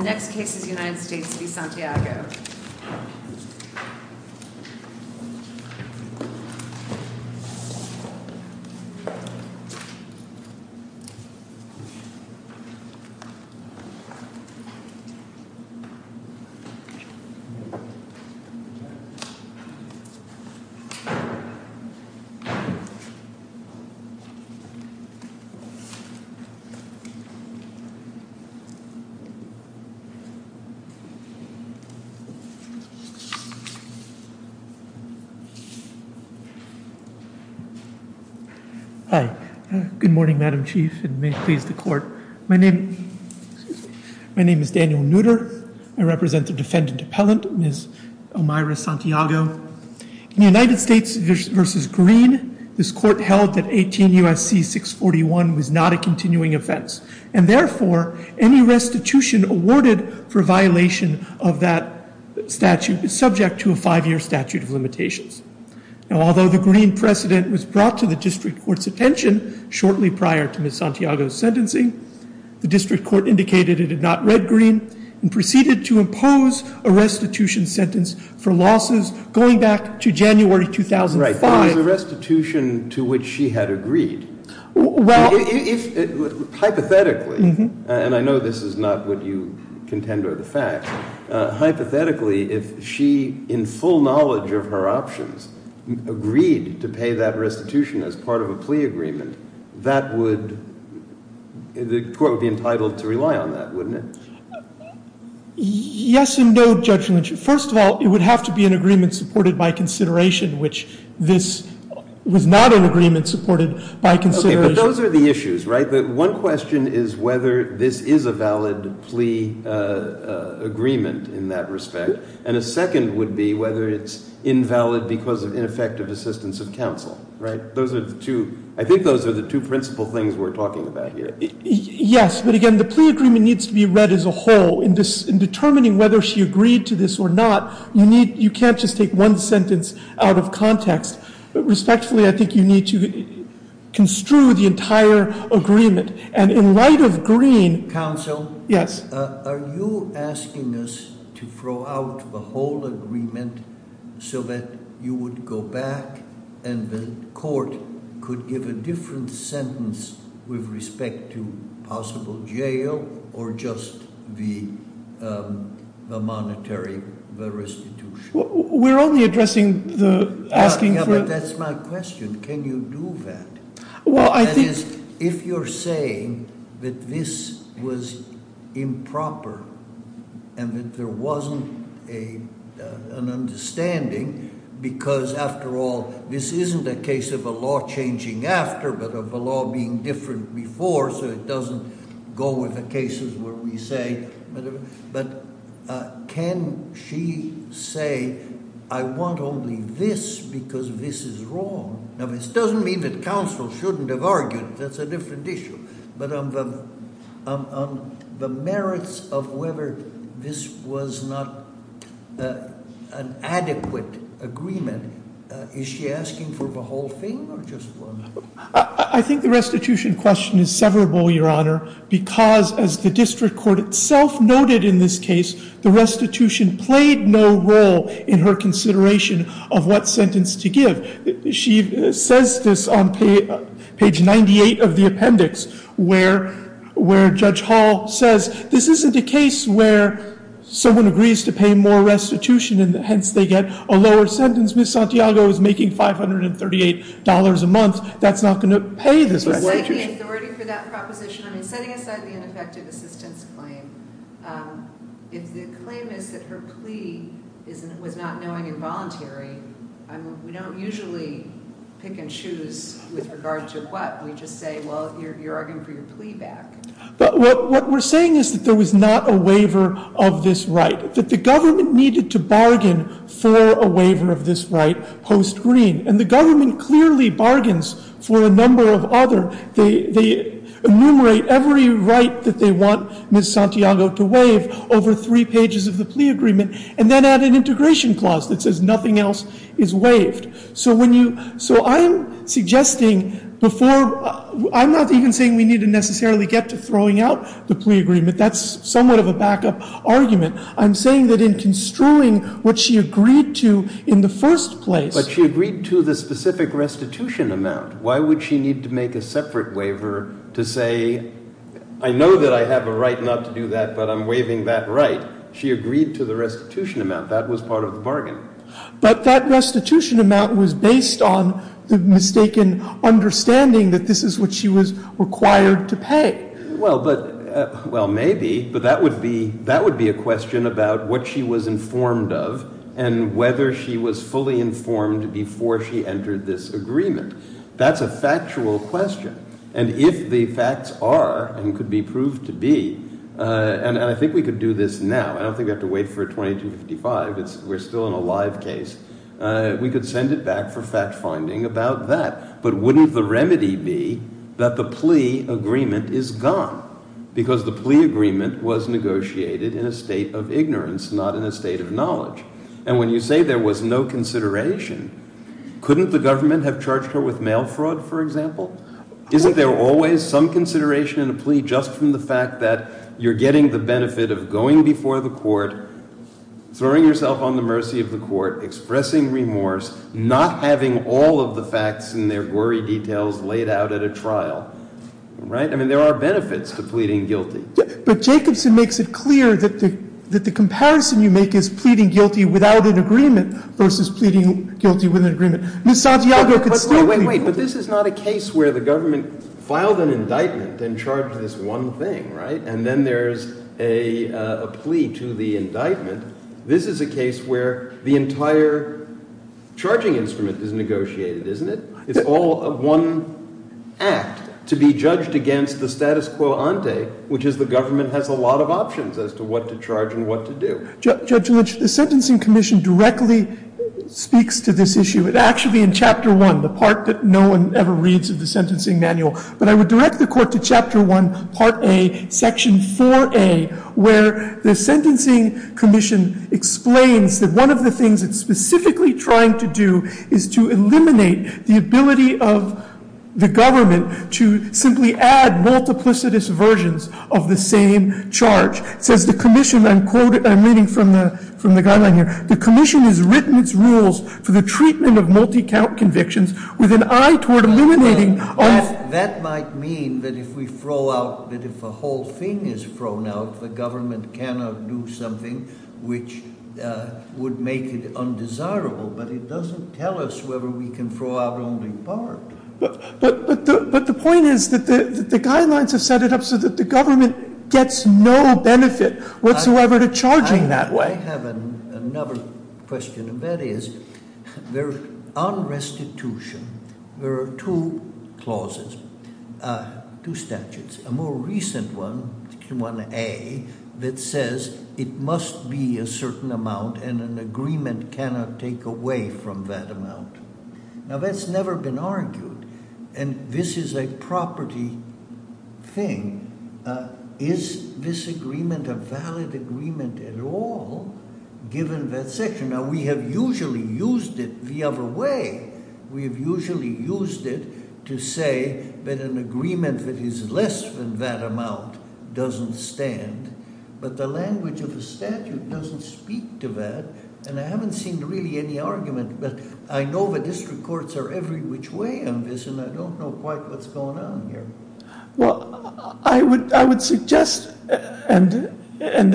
The next case is United States v. Santiago. Hi. Good morning, Madam Chief, and may it please the Court. My name is Daniel Nutter. I represent the defendant appellant, Ms. Omayra Santiago. In United States v. Green, this of that statute is subject to a five-year statute of limitations. Now, although the Green precedent was brought to the district court's attention shortly prior to Ms. Santiago's sentencing, the district court indicated it had not read Green and proceeded to impose a restitution sentence for losses going back to January 2005. Right, but it was a restitution to which she had agreed. Well, if, hypothetically, and I know this is not what you intend or the fact, hypothetically, if she, in full knowledge of her options, agreed to pay that restitution as part of a plea agreement, that would, the court would be entitled to rely on that, wouldn't it? Yes and no, Judge Lynch. First of all, it would have to be an agreement supported by consideration, which this was not an agreement supported by consideration. But those are the issues, right? One question is whether this is a valid plea agreement in that respect, and a second would be whether it's invalid because of ineffective assistance of counsel, right? Those are the two, I think those are the two principal things we're talking about here. Yes, but again, the plea agreement needs to be read as a whole. In determining whether she agreed to this or not, you need, you can't just take one sentence out of context. Respectfully, I think you need to construe the entire agreement. And in light of Green... Counsel? Yes. Are you asking us to throw out the whole agreement so that you would go back and the court could give a different sentence with respect to possible jail or just the monetary restitution? We're only addressing the asking for... Yeah, but that's my question. Can you do that? Well, I think... That is, if you're saying that this was improper and that there wasn't an understanding because after all, this isn't a case of a law changing after but of a law being different before so it doesn't go with the cases where we say... But can she say, I want only this because this is wrong? Now, this doesn't mean that counsel shouldn't have argued. That's a different issue. But on the merits of whether this was not an adequate agreement, is she asking for the whole thing or just one? I think the restitution question is severable, Your Honor, because as the district court itself noted in this case, the restitution played no role in her consideration of what sentence to give. She says this on page 98 of the appendix where Judge Hall says, this isn't a case where someone agrees to pay more restitution and hence they get a lower sentence. Since Ms. Santiago is making $538 a month, that's not going to pay this restitution. Is there any authority for that proposition? I mean, setting aside the ineffective assistance claim, if the claim is that her plea was not knowing and voluntary, we don't usually pick and choose with regard to what. We just say, well, you're arguing for your plea back. But what we're saying is that there was not a waiver of this right, that the government needed to bargain for a waiver of this right post-green. And the government clearly bargains for a number of other. They enumerate every right that they want Ms. Santiago to waive over three pages of the plea agreement and then add an integration clause that says nothing else is waived. So I'm suggesting before, I'm not even saying we need to necessarily get to throwing out the plea agreement. That's somewhat of a backup argument. I'm saying that in construing what she agreed to in the first place. But she agreed to the specific restitution amount. Why would she need to make a separate waiver to say, I know that I have a right not to do that, but I'm waiving that right. She agreed to the restitution amount. That was part of the bargain. But that restitution amount was based on the mistaken understanding that this is what she was required to pay. Well, maybe. But that would be a question about what she was informed of and whether she was fully informed before she entered this agreement. That's a factual question. And if the facts are and could be proved to be, and I think we could do this now. I don't think we have to wait for 2255. We're still in a live case. We could send it back for Because the plea agreement was negotiated in a state of ignorance, not in a state of knowledge. And when you say there was no consideration, couldn't the government have charged her with mail fraud, for example? Isn't there always some consideration in a plea just from the fact that you're getting the benefit of going before the court, throwing yourself on the mercy of the court, expressing remorse, not having all of the facts and their gory details laid out at a trial, right? I mean, there are benefits to pleading guilty. But Jacobson makes it clear that the comparison you make is pleading guilty without an agreement versus pleading guilty with an agreement. Ms. Santiago could still plead guilty. But wait, but this is not a case where the government filed an indictment and charged this one thing, right? And then there's a plea to the indictment. This is a case where the entire charging instrument is negotiated, isn't it? It's all one act to be judged against the status quo ante, which is the government has a lot of options as to what to charge and what to do. Judge Lynch, the Sentencing Commission directly speaks to this issue. It actually, in Chapter 1, the part that no one ever reads of the sentencing manual, but I would direct the court to Chapter 1, Part A, Section 4A, where the Sentencing Commission explains that one of the things it's specifically trying to do is to eliminate the ability of the government to simply add multiplicitous versions of the same charge. It says the commission, I'm quoting, I'm reading from the guideline here, the commission has written its rules for the treatment of multi-count convictions with an eye toward eliminating all... That might mean that if we throw out, that if a whole thing is thrown out, the government cannot do something which would make it undesirable, but it doesn't tell us whether we can throw out only part. But the point is that the guidelines have set it up so that the government gets no benefit whatsoever to charging that way. I have another question, and that is, on restitution, there are two clauses, two statutes. A more it must be a certain amount, and an agreement cannot take away from that amount. Now, that's never been argued, and this is a property thing. Is this agreement a valid agreement at all, given that section? Now, we have usually used it the other way. We have usually used it to say that an agreement that is less than that amount doesn't stand, but the language of the statute doesn't speak to that, and I haven't seen really any argument, but I know the district courts are every which way on this, and I don't know quite what's going on here. Well, I would suggest, and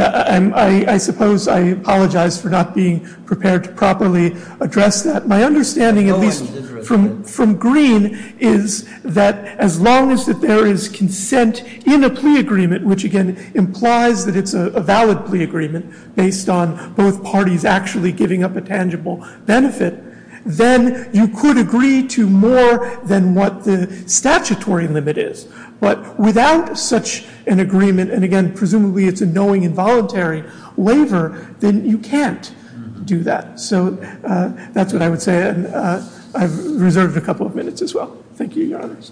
I suppose I apologize for not being prepared to properly address that. My understanding, at least from Green, is that as long as there is consent in a plea agreement, which again implies that it's a valid plea agreement based on both parties actually giving up a tangible benefit, then you could agree to more than what the statutory limit is. But without such an agreement, and again, presumably it's a knowing involuntary waiver, then you can't do that. So that's what I would say, and I've reserved a couple of minutes as well. Thank you, Your Honors.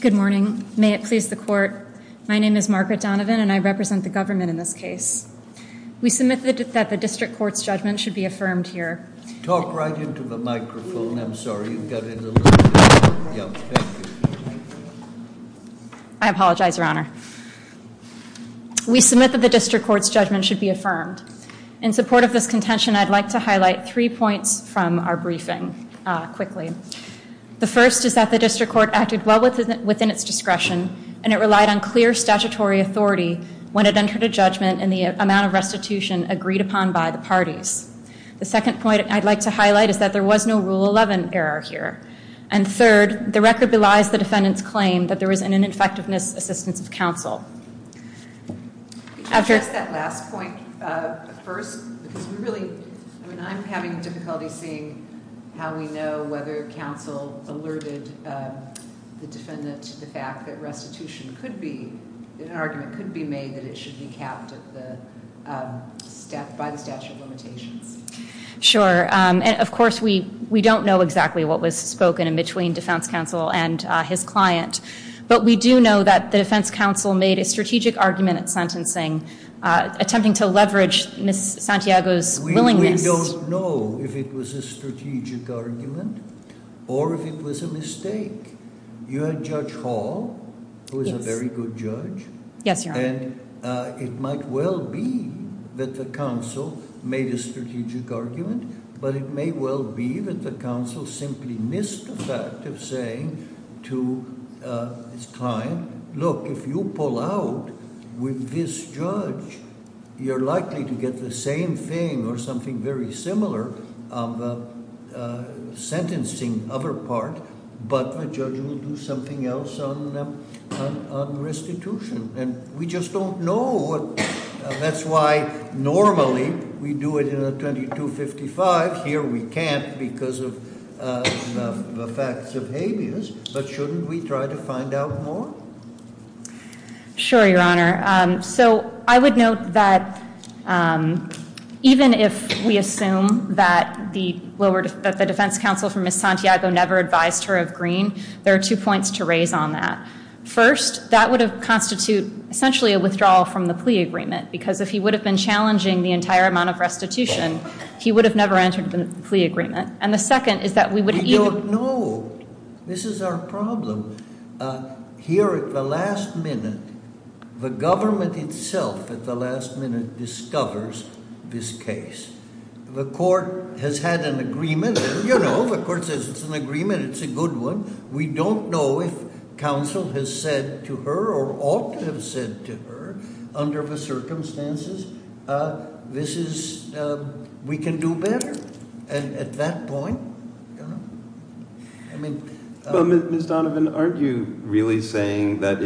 Good morning. May it please the court. My name is Margaret Donovan, and I represent the government in this case. We submit that the district court's judgment should be affirmed here. Talk right into the microphone. I'm sorry, you've got it a little... I apologize, Your Honor. We submit that the district court's judgment should be affirmed. In support of this contention, I'd like to highlight three points from our briefing quickly. The first is that the district court acted well within its discretion, and it relied on clear statutory authority when it entered a judgment and the amount of restitution agreed upon by the parties. The second point I'd like to highlight is that there was no Rule 11 error here. And third, the record belies the defendant's claim that there was an ineffectiveness assistance of counsel. Could you address that last point first? Because we really... I mean, I'm having difficulty seeing how we know whether counsel alerted the defendant to the fact that restitution could be... an argument could be made that it should be capped by the statute of limitations. Sure. And of course, we don't know exactly what was spoken in between defense counsel and his client. But we do know that the defense counsel made a strategic argument at sentencing attempting to leverage Ms. Santiago's willingness... We don't know if it was a strategic argument or if it was a mistake. You had Judge Hall, who is a very good judge. Yes, Your Honor. And it might well be that the counsel made a strategic argument, but it may well be that the counsel simply missed the fact of saying to his client, look, if you pull out with this judge, you're likely to get the same thing or something very similar on the sentencing other part. But the judge will do something else on restitution. And we just don't know. That's why normally we do it in a 2255. Here we can't because of the facts of habeas. But shouldn't we try to find out more? Sure, Your Honor. So I would note that even if we assume that the lower... that the defense counsel for Ms. Santiago never advised her of Greene, there are two points to raise on that. First, that would have constitute essentially a withdrawal from the plea agreement because if he would have been challenging the entire amount of restitution, he would have never entered the plea agreement. And the second is that we would... We don't know. This is our problem. Here at the last minute, the government itself at the last minute discovers this case. The court has had an agreement. The court says it's an agreement. It's a good one. We don't know if counsel has said to her or ought to have said to her under the circumstances, this is... we can do better. And at that point, I mean... But Ms. Donovan, aren't you really saying that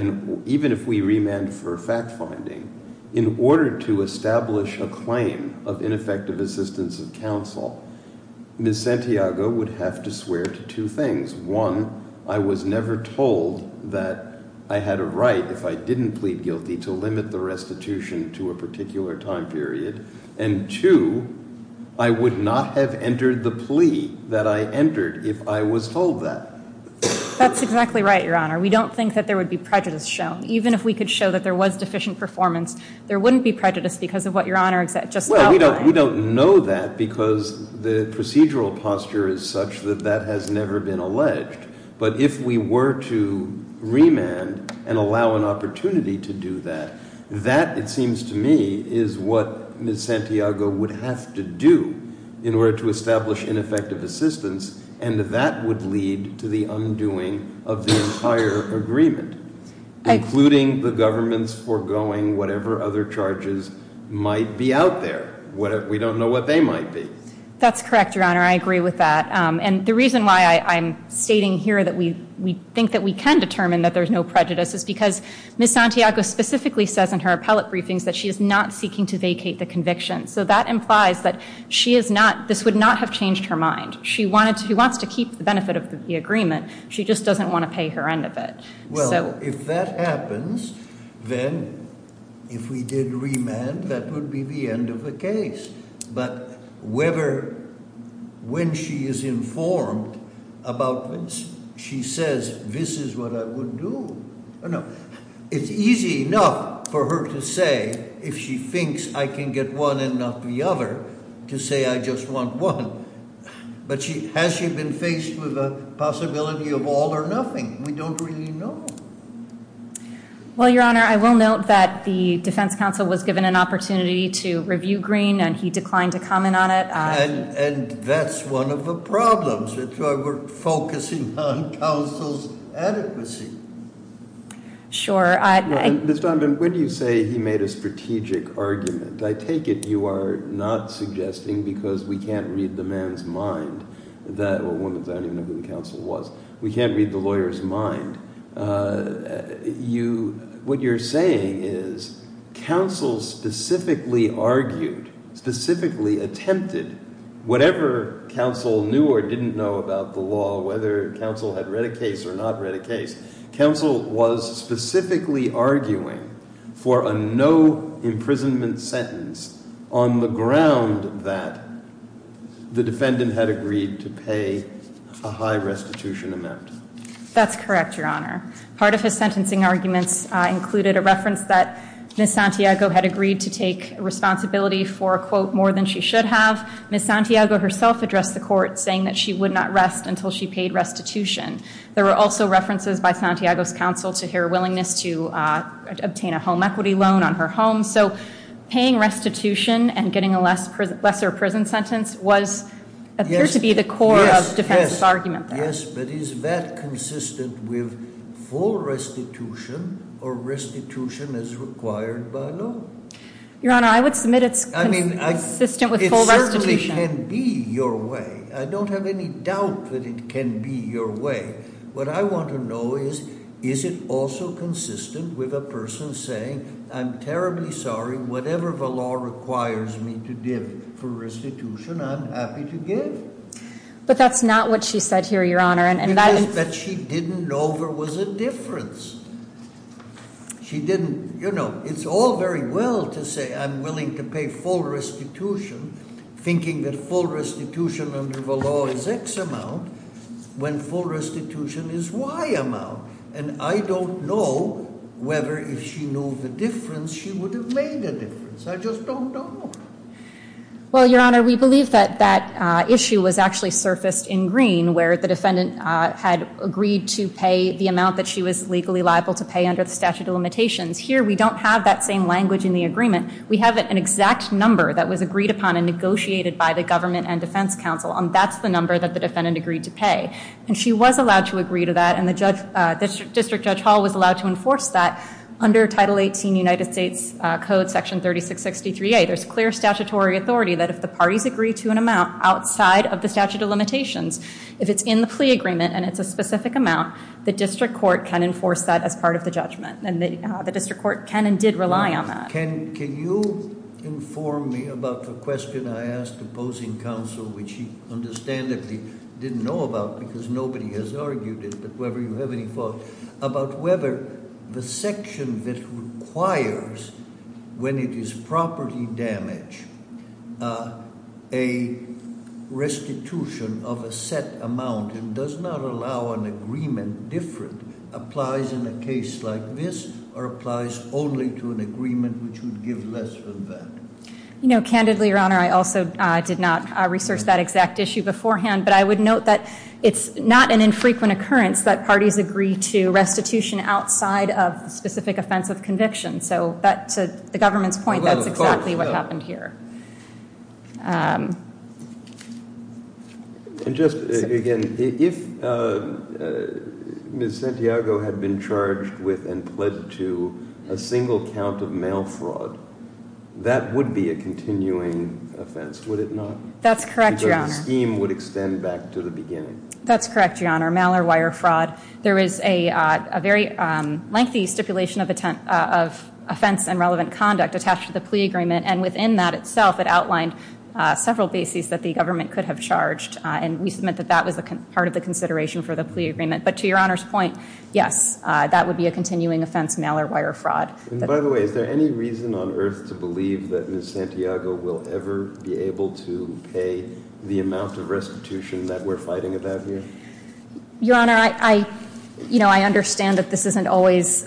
even if we remand for fact-finding, in order to establish a claim of ineffective assistance of counsel, Ms. Santiago would have to swear to two things. One, I was never told that I had a right if I didn't plead guilty to limit the restitution to a particular time period. And two, I would not have entered the plea that I entered if I was told that. That's exactly right, Your Honor. We don't think that there would be prejudice shown. Even if we could show that there was deficient performance, there wouldn't be prejudice because of what Your Honor just outlined. Well, we don't know that because the procedural posture is such that that has never been alleged. But if we were to remand and allow an opportunity to do that, that, it seems to me, is what Ms. Santiago would have to do in order to establish ineffective assistance, and that would lead to the undoing of the entire agreement, including the government's foregoing whatever other charges might be out there. We don't know what they might be. That's correct, Your Honor. I agree with that. And the reason why I'm stating here that we think that we can determine that there's no prejudice is because Ms. Santiago specifically says in her appellate briefings that she is not seeking to vacate the conviction. So that implies that she is not, this would not have changed her mind. She wanted to, she wants to keep the benefit of the agreement. She just doesn't want to pay her end of it. Well, if that happens, then if we did remand, that would be the end of the case. But whether, when she is informed about this, she says, this is what I would do. It's easy enough for her to say, if she thinks I can get one and not the other, to say I just want one. But has she been faced with a possibility of all or nothing? We don't really know. Well, Your Honor, I will note that the defense counsel was given an opportunity to review Green, and he declined to comment on it. And that's one of the problems. We're focusing on counsel's adequacy. Sure. Ms. Donovan, when you say he made a strategic argument, I take it you are not suggesting, because we can't read the man's mind, that, well, I don't even know who the counsel was. We can't read the lawyer's mind. What you're saying is counsel specifically argued, specifically attempted, whatever counsel knew or didn't know about the law, whether counsel had read a case or not read a case, counsel was specifically arguing for a no-imprisonment sentence on the ground that the defendant had agreed to pay a high restitution amount. That's correct, Your Honor. Part of his sentencing arguments included a reference that Ms. Santiago had agreed to take responsibility for, quote, more than she should have. Ms. Santiago herself addressed the court, saying that she would not rest until she paid restitution. There were also references by Santiago's counsel to her willingness to obtain a home equity loan on her home. So paying restitution and getting a lesser prison sentence was, appeared to be the core of defense's argument there. Yes, but is that consistent with full restitution or restitution as required by law? Your Honor, I would submit it's consistent with full restitution. It certainly can be your way. I don't have any doubt that it can be your way. What I want to know is, is it also consistent with a person saying, I'm terribly sorry, whatever the law requires me to give for restitution, I'm happy to give? But that's not what she said here, Your Honor, and that- It's just that she didn't know there was a difference. She didn't, you know, it's all very well to say I'm willing to pay full restitution, thinking that full restitution under the law is X amount, when full restitution is Y amount. And I don't know whether if she knew the difference, she would have made a difference. I just don't know. Well, Your Honor, we believe that that issue was actually surfaced in Green, where the defendant had agreed to pay the amount that she was legally liable to pay under the statute of limitations. Here, we don't have that same language in the agreement. We have an exact number that was agreed upon and negotiated by the government and defense counsel, and that's the number that the defendant agreed to pay. And she was allowed to agree to that, and the district judge Hall was allowed to enforce that under Title 18 United States Code Section 3663A. There's clear statutory authority that if the parties agree to an amount outside of the statute of limitations, if it's in the plea agreement and it's a specific amount, the district court can enforce that as part of the judgment. And the district court can and did rely on that. Can you inform me about the question I asked the opposing counsel, which he understandably didn't know about because nobody has argued it, about whether the section that requires, when it is property damage, a restitution of a set amount and does not allow an agreement different, applies in a case like this or applies only to an agreement which would give less than that? You know, candidly, Your Honor, I also did not research that exact issue beforehand, but I would note that it's not an infrequent occurrence that parties agree to restitution outside of the specific offense of conviction. So to the government's point, that's exactly what happened here. And just, again, if Ms. Santiago had been charged with and pled to a single count of mail fraud, that would be a continuing offense, would it not? That's correct, Your Honor. That scheme would extend back to the beginning. That's correct, Your Honor. Mail or wire fraud. There is a very lengthy stipulation of offense and relevant conduct attached to the plea agreement, and within that itself it outlined several bases that the government could have charged, and we submit that that was part of the consideration for the plea agreement. But to Your Honor's point, yes, that would be a continuing offense, mail or wire fraud. By the way, is there any reason on earth to believe that Ms. Santiago will ever be able to pay the amount of restitution that we're fighting about here? Your Honor, I understand that this isn't always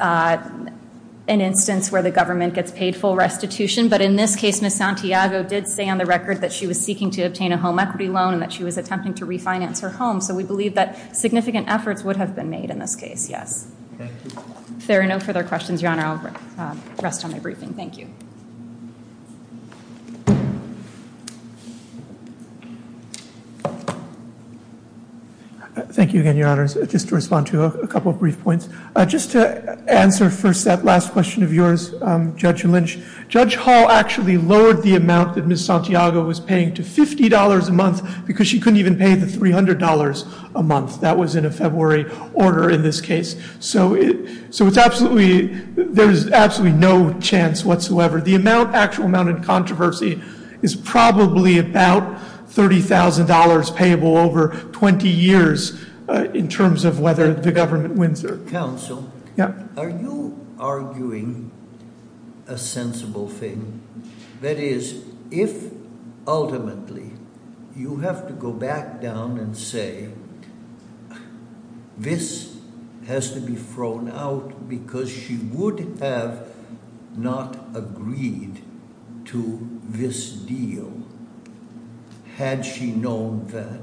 an instance where the government gets paid full restitution, but in this case Ms. Santiago did say on the record that she was seeking to obtain a home equity loan and that she was attempting to refinance her home, so we believe that significant efforts would have been made in this case, yes. Thank you. If there are no further questions, Your Honor, I'll rest on my briefing. Thank you. Thank you again, Your Honors. Just to respond to a couple of brief points. Just to answer first that last question of yours, Judge Lynch, Judge Hall actually lowered the amount that Ms. Santiago was paying to $50 a month because she couldn't even pay the $300 a month. That was in a February order in this case. So there's absolutely no chance whatsoever. The actual amount in controversy is probably about $30,000 payable over 20 years in terms of whether the government wins or- Counsel, are you arguing a sensible thing? That is, if ultimately you have to go back down and say this has to be thrown out because she would have not agreed to this deal had she known that,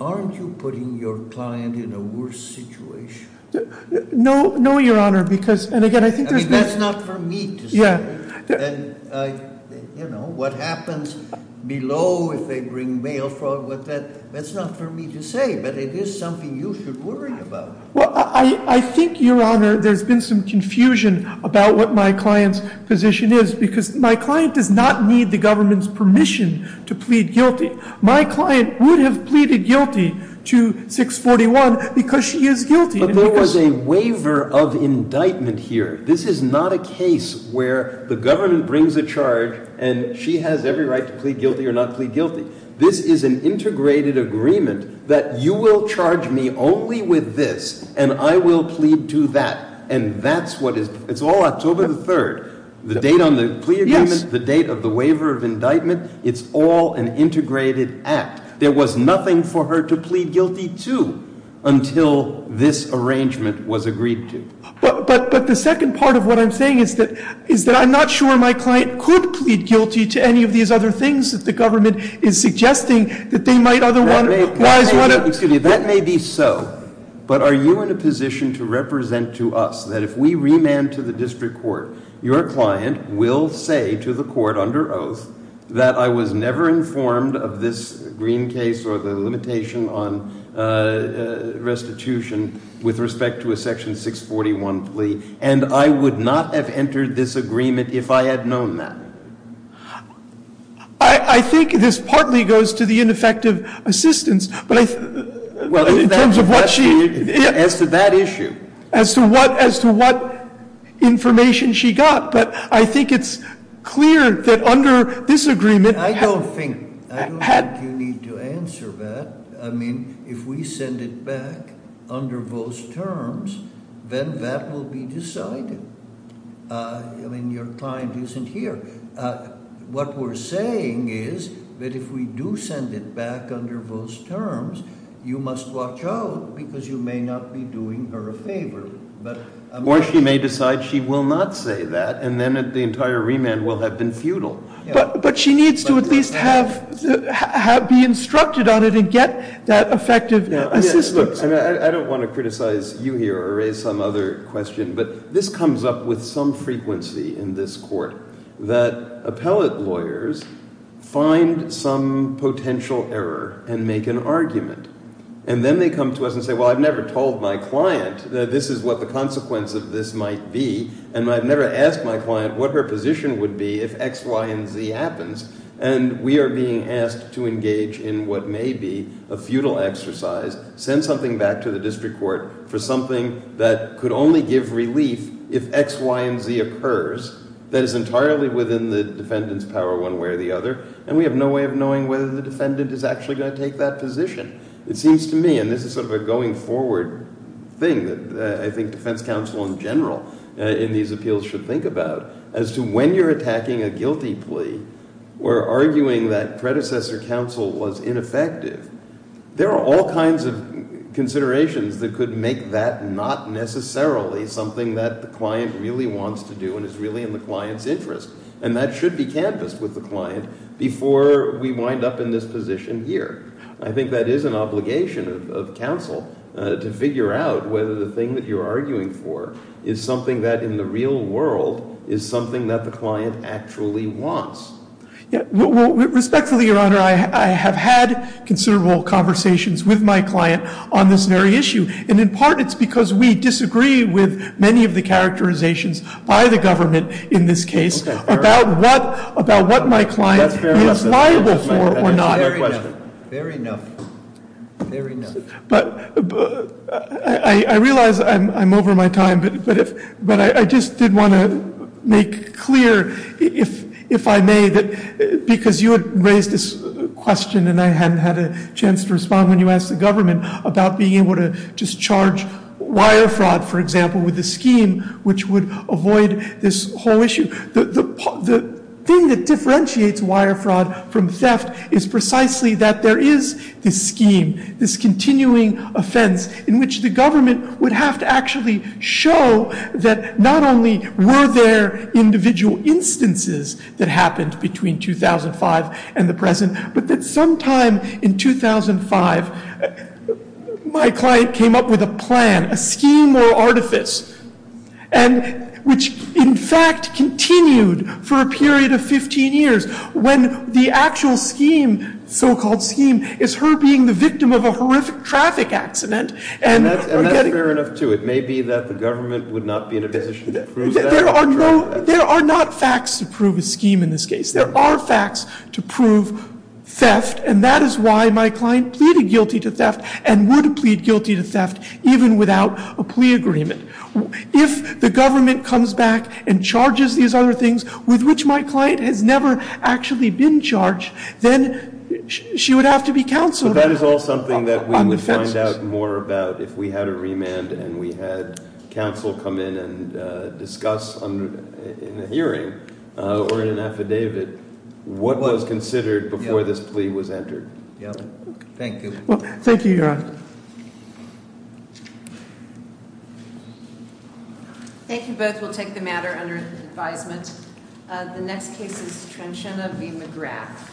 aren't you putting your client in a worse situation? No, Your Honor, because- That's not for me to say. You know, what happens below if they bring mail fraud, that's not for me to say, but it is something you should worry about. Well, I think, Your Honor, there's been some confusion about what my client's position is because my client does not need the government's permission to plead guilty. My client would have pleaded guilty to 641 because she is guilty. But there was a waiver of indictment here. This is not a case where the government brings a charge and she has every right to plead guilty or not plead guilty. This is an integrated agreement that you will charge me only with this and I will plead to that, and that's what is- it's all October the 3rd. The date on the plea agreement, the date of the waiver of indictment, it's all an integrated act. There was nothing for her to plead guilty to until this arrangement was agreed to. But the second part of what I'm saying is that I'm not sure my client could plead guilty to any of these other things that the government is suggesting that they might otherwise want to- That may be so, but are you in a position to represent to us that if we remand to the district court, your client will say to the court under oath that I was never informed of this Green case or the limitation on restitution with respect to a section 641 plea, and I would not have entered this agreement if I had known that? I think this partly goes to the ineffective assistance, but in terms of what she- As to that issue. As to what information she got. But I think it's clear that under this agreement- I don't think you need to answer that. I mean, if we send it back under those terms, then that will be decided. I mean, your client isn't here. What we're saying is that if we do send it back under those terms, you must watch out because you may not be doing her a favor. Or she may decide she will not say that, and then the entire remand will have been futile. But she needs to at least be instructed on it and get that effective assistance. I don't want to criticize you here or raise some other question, but this comes up with some frequency in this court that appellate lawyers find some potential error and make an argument, and then they come to us and say, well, I've never told my client that this is what the consequence of this might be, and I've never asked my client what her position would be if X, Y, and Z happens, and we are being asked to engage in what may be a futile exercise, send something back to the district court for something that could only give relief if X, Y, and Z occurs, that is entirely within the defendant's power one way or the other, and we have no way of knowing whether the defendant is actually going to take that position. It seems to me, and this is sort of a going forward thing that I think defense counsel in general in these appeals should think about, as to when you're attacking a guilty plea or arguing that predecessor counsel was ineffective, there are all kinds of considerations that could make that not necessarily something that the client really wants to do and is really in the client's interest, and that should be canvassed with the client before we wind up in this position here. I think that is an obligation of counsel to figure out whether the thing that you're arguing for is something that in the real world is something that the client actually wants. Respectfully, Your Honor, I have had considerable conversations with my client on this very issue, and in part it's because we disagree with many of the characterizations by the government in this case about what my client is liable for or not. Very enough. I realize I'm over my time, but I just did want to make clear, if I may, because you had raised this question and I hadn't had a chance to respond when you asked the government about being able to just charge wire fraud, for example, with a scheme which would avoid this whole issue. The thing that differentiates wire fraud from theft is precisely that there is this scheme, this continuing offense in which the government would have to actually show that not only were there individual instances that happened between 2005 and the present, but that sometime in 2005 my client came up with a plan, a scheme or artifice, which in fact continued for a period of 15 years when the actual scheme, so-called scheme, is her being the victim of a horrific traffic accident. And that's fair enough, too. It may be that the government would not be in a position to prove that. There are not facts to prove a scheme in this case. There are facts to prove theft, and that is why my client pleaded guilty to theft and would plead guilty to theft even without a plea agreement. If the government comes back and charges these other things with which my client has never actually been charged, then she would have to be counseled on the offenses. So that is all something that we would find out more about if we had a remand and we had counsel come in and discuss in a hearing or in an affidavit what was considered before this plea was entered. Thank you. Thank you, Your Honor. Thank you both. We'll take the matter under advisement. The next case is Trenchana v. McGrath.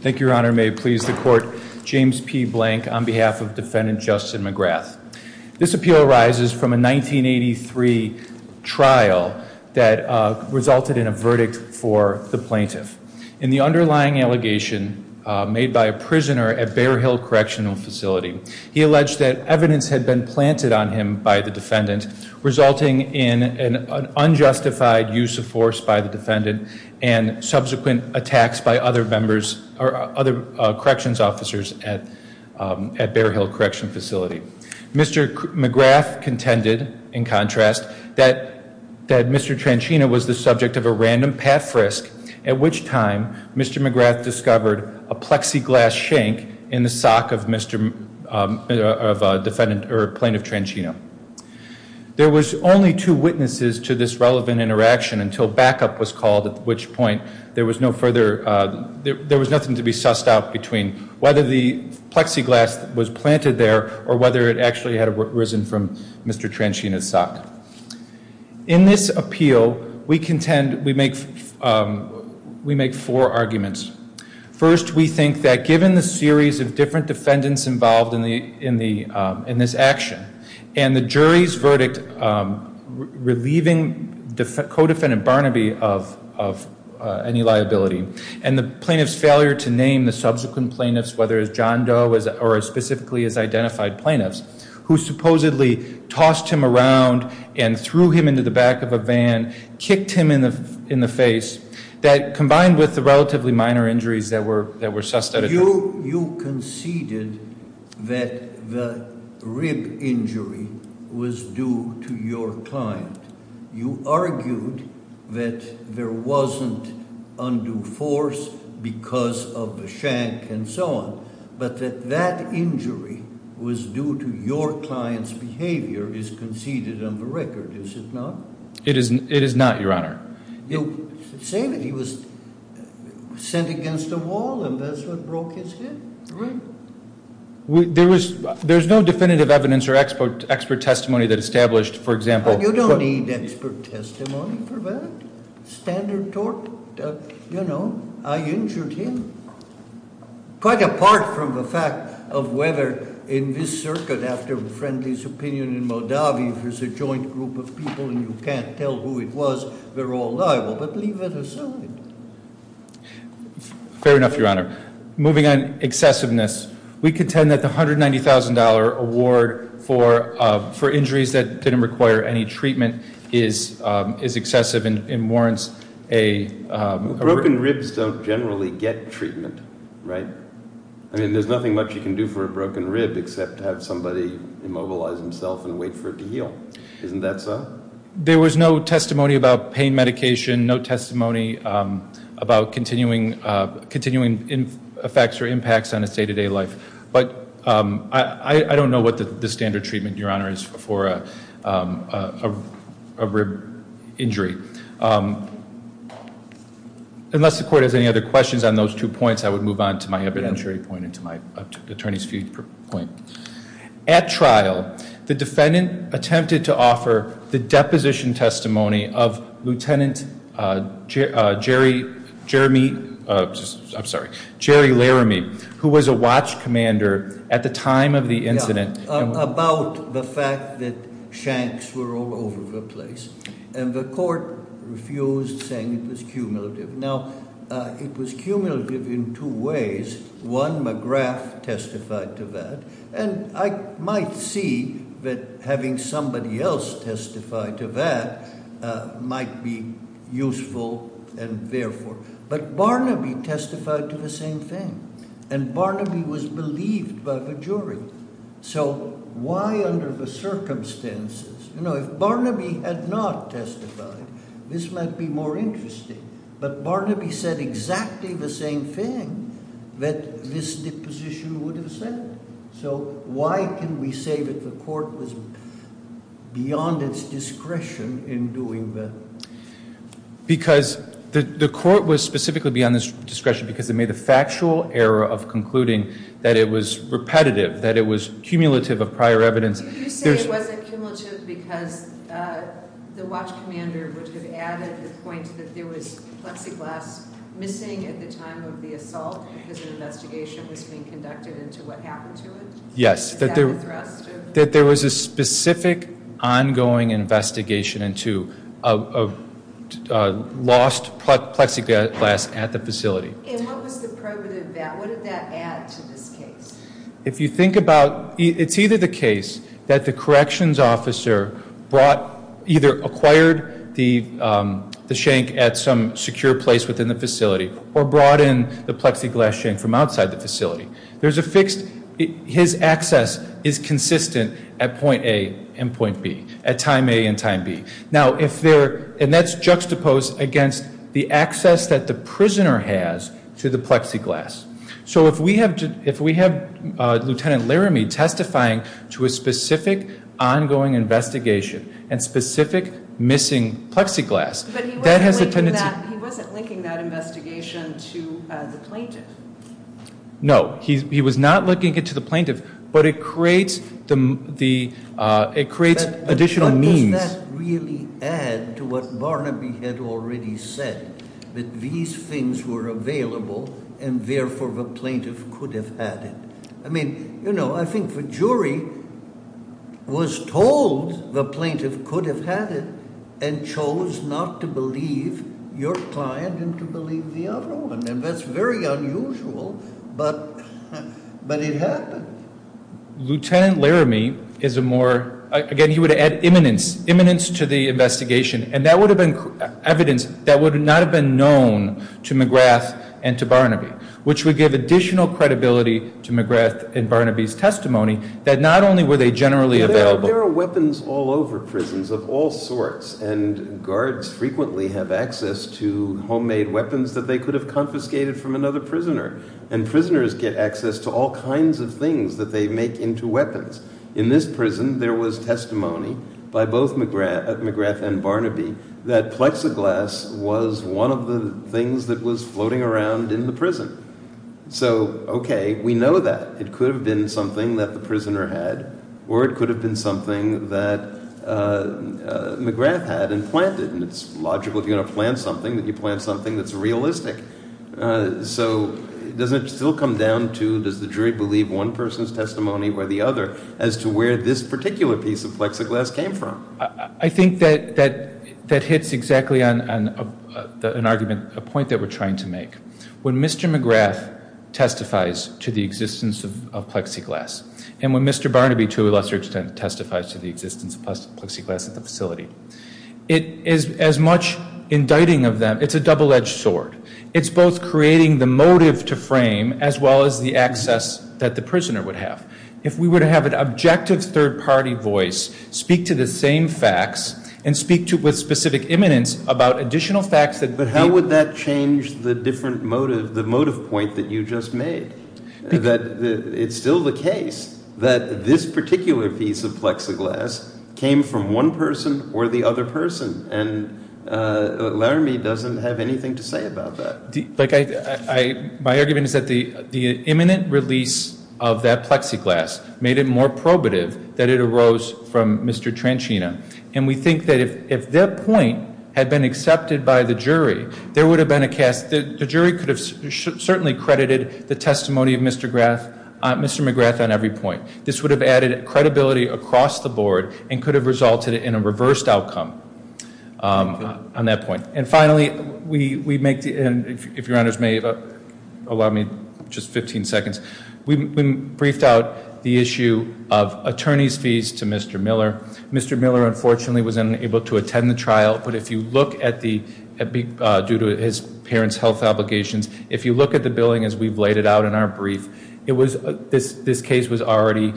Thank you, Your Honor. May it please the Court, James P. Blank on behalf of Defendant Justin McGrath. This appeal arises from a 1983 trial that resulted in a verdict for the plaintiff. In the underlying allegation made by a prisoner at Bear Hill Correctional Facility, he alleged that evidence had been planted on him by the defendant, resulting in an unjustified use of force by the defendant and subsequent attacks by other corrections officers at Bear Hill Correctional Facility. Mr. McGrath contended, in contrast, that Mr. Trenchana was the subject of a random path risk at which time Mr. McGrath discovered a plexiglass shank in the sock of Plaintiff Trenchana. There was only two witnesses to this relevant interaction until backup was called, at which point there was nothing to be sussed out between whether the plexiglass was planted there or whether it actually had arisen from Mr. Trenchana's sock. In this appeal, we contend we make four arguments. First, we think that given the series of different defendants involved in this action and the jury's verdict relieving co-defendant Barnaby of any liability and the plaintiff's failure to name the subsequent plaintiffs, whether it's John Doe or specifically his identified plaintiffs, who supposedly tossed him around and threw him into the back of a van, kicked him in the face, that combined with the relatively minor injuries that were sussed out at that time. You conceded that the rib injury was due to your client. You argued that there wasn't undue force because of the shank and so on, but that that injury was due to your client's behavior is conceded on the record, is it not? It is not, Your Honor. You say that he was sent against the wall and that's what broke his hip. Right. There's no definitive evidence or expert testimony that established, for example— You don't need expert testimony for that. Standard tort, you know, I injured him. Quite apart from the fact of whether in this circuit, after Friendly's opinion in Moldavia, if there's a joint group of people and you can't tell who it was, they're all liable, but leave it as so. Fair enough, Your Honor. Moving on, excessiveness. We contend that the $190,000 award for injuries that didn't require any treatment is excessive and warrants a— Broken ribs don't generally get treatment, right? I mean, there's nothing much you can do for a broken rib except have somebody immobilize himself and wait for it to heal. Isn't that so? There was no testimony about pain medication, no testimony about continuing effects or impacts on his day-to-day life. But I don't know what the standard treatment, Your Honor, is for a rib injury. Unless the court has any other questions on those two points, I would move on to my evidentiary point and to my attorney's point. At trial, the defendant attempted to offer the deposition testimony of Lieutenant Jerry Laramie, who was a watch commander at the time of the incident. About the fact that shanks were all over the place. And the court refused, saying it was cumulative. Now, it was cumulative in two ways. One, McGrath testified to that. And I might see that having somebody else testify to that might be useful and therefore— And Barnaby was believed by the jury. So why under the circumstances— You know, if Barnaby had not testified, this might be more interesting. But Barnaby said exactly the same thing that this deposition would have said. So why can we say that the court was beyond its discretion in doing that? Because the court was specifically beyond its discretion because it made the factual error of concluding that it was repetitive. That it was cumulative of prior evidence. You say it wasn't cumulative because the watch commander would have added the point that there was plexiglass missing at the time of the assault because an investigation was being conducted into what happened to it? Yes. Is that a thrust? That there was a specific ongoing investigation into a lost plexiglass at the facility. And what was the probative of that? What did that add to this case? If you think about—it's either the case that the corrections officer brought— either acquired the shank at some secure place within the facility or brought in the plexiglass shank from outside the facility. There's a fixed—his access is consistent at point A and point B. At time A and time B. Now, if there—and that's juxtaposed against the access that the prisoner has to the plexiglass. So if we have Lt. Laramie testifying to a specific ongoing investigation and specific missing plexiglass, that has a tendency— But he wasn't linking that investigation to the plaintiff. No, he was not linking it to the plaintiff, but it creates additional means— But does that really add to what Barnaby had already said? That these things were available and therefore the plaintiff could have had it. I mean, you know, I think the jury was told the plaintiff could have had it and chose not to believe your client and to believe the other one. And that's very unusual, but it happened. Lt. Laramie is a more—again, he would add imminence to the investigation, and that would have been evidence that would not have been known to McGrath and to Barnaby, which would give additional credibility to McGrath and Barnaby's testimony that not only were they generally available— There are weapons all over prisons of all sorts, and guards frequently have access to homemade weapons that they could have confiscated from another prisoner. And prisoners get access to all kinds of things that they make into weapons. In this prison, there was testimony by both McGrath and Barnaby that plexiglass was one of the things that was floating around in the prison. So, okay, we know that. It could have been something that the prisoner had, or it could have been something that McGrath had and planted. And it's logical if you're going to plant something that you plant something that's realistic. So does it still come down to does the jury believe one person's testimony or the other as to where this particular piece of plexiglass came from? I think that hits exactly on an argument, a point that we're trying to make. When Mr. McGrath testifies to the existence of plexiglass and when Mr. Barnaby, to a lesser extent, testifies to the existence of plexiglass at the facility, it is as much indicting of them—it's a double-edged sword. It's both creating the motive to frame as well as the access that the prisoner would have. If we were to have an objective third-party voice speak to the same facts and speak with specific imminence about additional facts that— But how would that change the different motive, the motive point that you just made? That it's still the case that this particular piece of plexiglass came from one person or the other person. And Laramie doesn't have anything to say about that. My argument is that the imminent release of that plexiglass made it more probative that it arose from Mr. Tranchina. And we think that if that point had been accepted by the jury, there would have been a— Yes, the jury could have certainly credited the testimony of Mr. McGrath on every point. This would have added credibility across the board and could have resulted in a reversed outcome on that point. And finally, we make—and if your honors may allow me just 15 seconds— we briefed out the issue of attorney's fees to Mr. Miller. Mr. Miller, unfortunately, was unable to attend the trial. But if you look at the—due to his parents' health obligations— if you look at the billing as we've laid it out in our brief, this case was already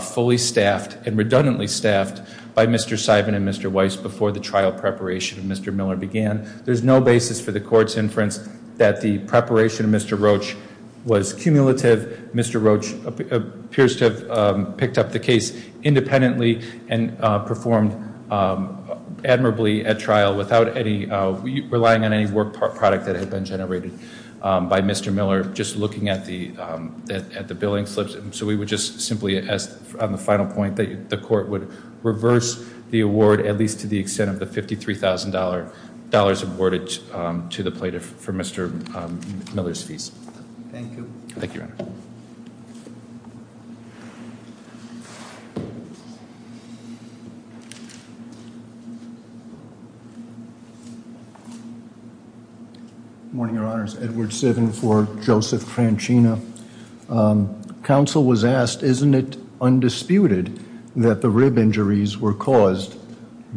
fully staffed and redundantly staffed by Mr. Simon and Mr. Weiss before the trial preparation of Mr. Miller began. There's no basis for the court's inference that the preparation of Mr. Roach was cumulative. Mr. Roach appears to have picked up the case independently and performed admirably at trial without relying on any work product that had been generated by Mr. Miller. Just looking at the billing slips. So we would just simply ask on the final point that the court would reverse the award at least to the extent of the $53,000 awarded to the plaintiff for Mr. Miller's fees. Thank you. Thank you, Your Honor. Good morning, Your Honors. Edward Sivan for Joseph Crancina. Counsel was asked, isn't it undisputed that the rib injuries were caused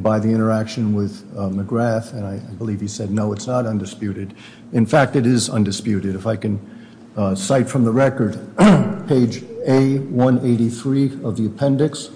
by the interaction with McGrath? And I believe he said, no, it's not undisputed. In fact, it is undisputed. If I can cite from the record, page A183 of the appendix,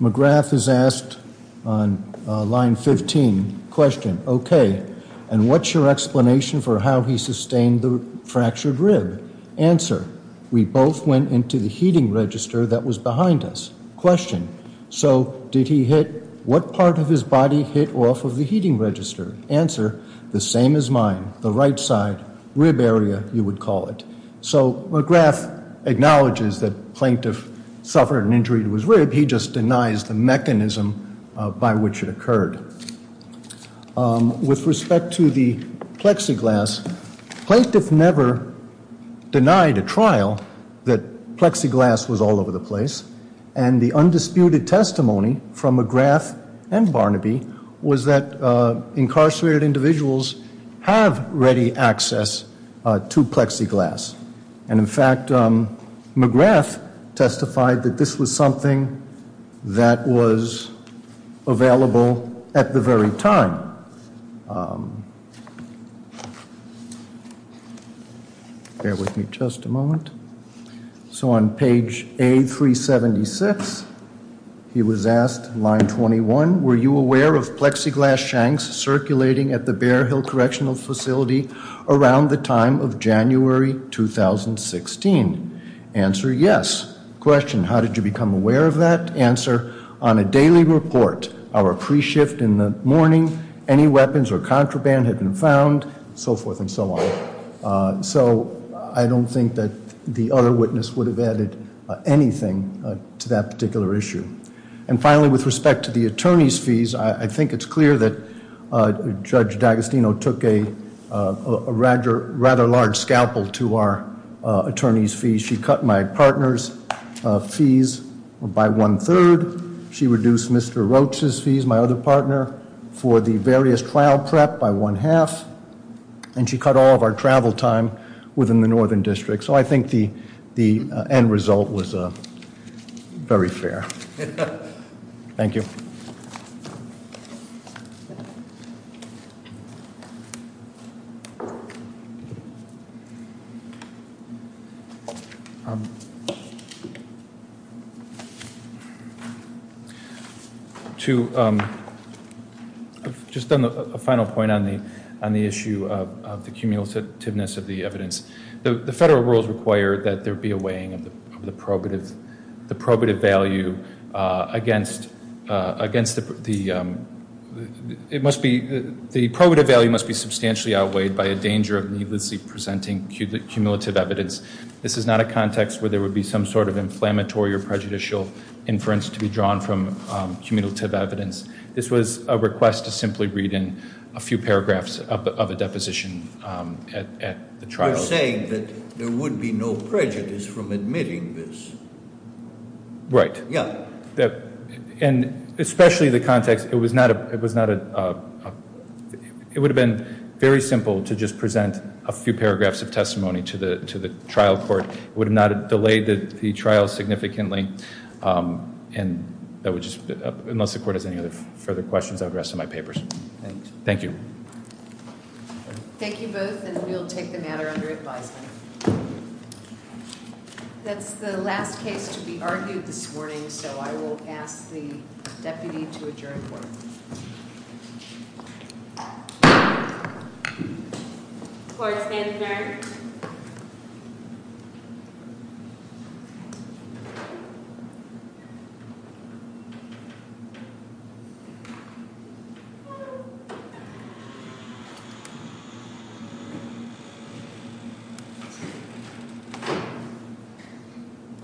McGrath is asked on line 15, question, okay, and what's your explanation for how he sustained the fractured rib? Answer, we both went into the heating register that was behind us. Question, so did he hit, what part of his body hit off of the heating register? Answer, the same as mine, the right side, rib area, you would call it. So McGrath acknowledges that plaintiff suffered an injury to his rib. He just denies the mechanism by which it occurred. With respect to the plexiglass, plaintiff never denied a trial that plexiglass was all over the place, and the undisputed testimony from McGrath and Barnaby was that incarcerated individuals have ready access to plexiglass. And in fact, McGrath testified that this was something that was available at the very time. Bear with me just a moment. So on page A376, he was asked, line 21, were you aware of plexiglass shanks circulating at the Bear Hill Correctional Facility around the time of January 2016? Answer, yes. Question, how did you become aware of that? Answer, on a daily report, our pre-shift in the morning, any weapons or contraband had been found, so forth and so on. So I don't think that the other witness would have added anything to that particular issue. And finally, with respect to the attorney's fees, I think it's clear that Judge D'Agostino took a rather large scalpel to our attorney's fees. She cut my partner's fees by one-third. She reduced Mr. Roach's fees, my other partner, for the various trial prep by one-half. And she cut all of our travel time within the Northern District. So I think the end result was very fair. Thank you. Thank you. I've just done a final point on the issue of the cumulativeness of the evidence. The federal rules require that there be a weighing of the probative value against the, it must be, the probative value must be substantially outweighed by a danger of needlessly presenting cumulative evidence. This is not a context where there would be some sort of inflammatory or prejudicial inference to be drawn from cumulative evidence. This was a request to simply read in a few paragraphs of a deposition at the trial. You're saying that there would be no prejudice from admitting this? Right. Yeah. And especially the context, it was not a, it would have been very simple to just present a few paragraphs of testimony to the trial court. It would have not delayed the trial significantly. And that would just, unless the court has any other further questions, I would rest on my papers. Thank you. Thank you both, and we'll take the matter under advisement. That's the last case to be argued this morning, so I will ask the deputy to adjourn court. Court is adjourned.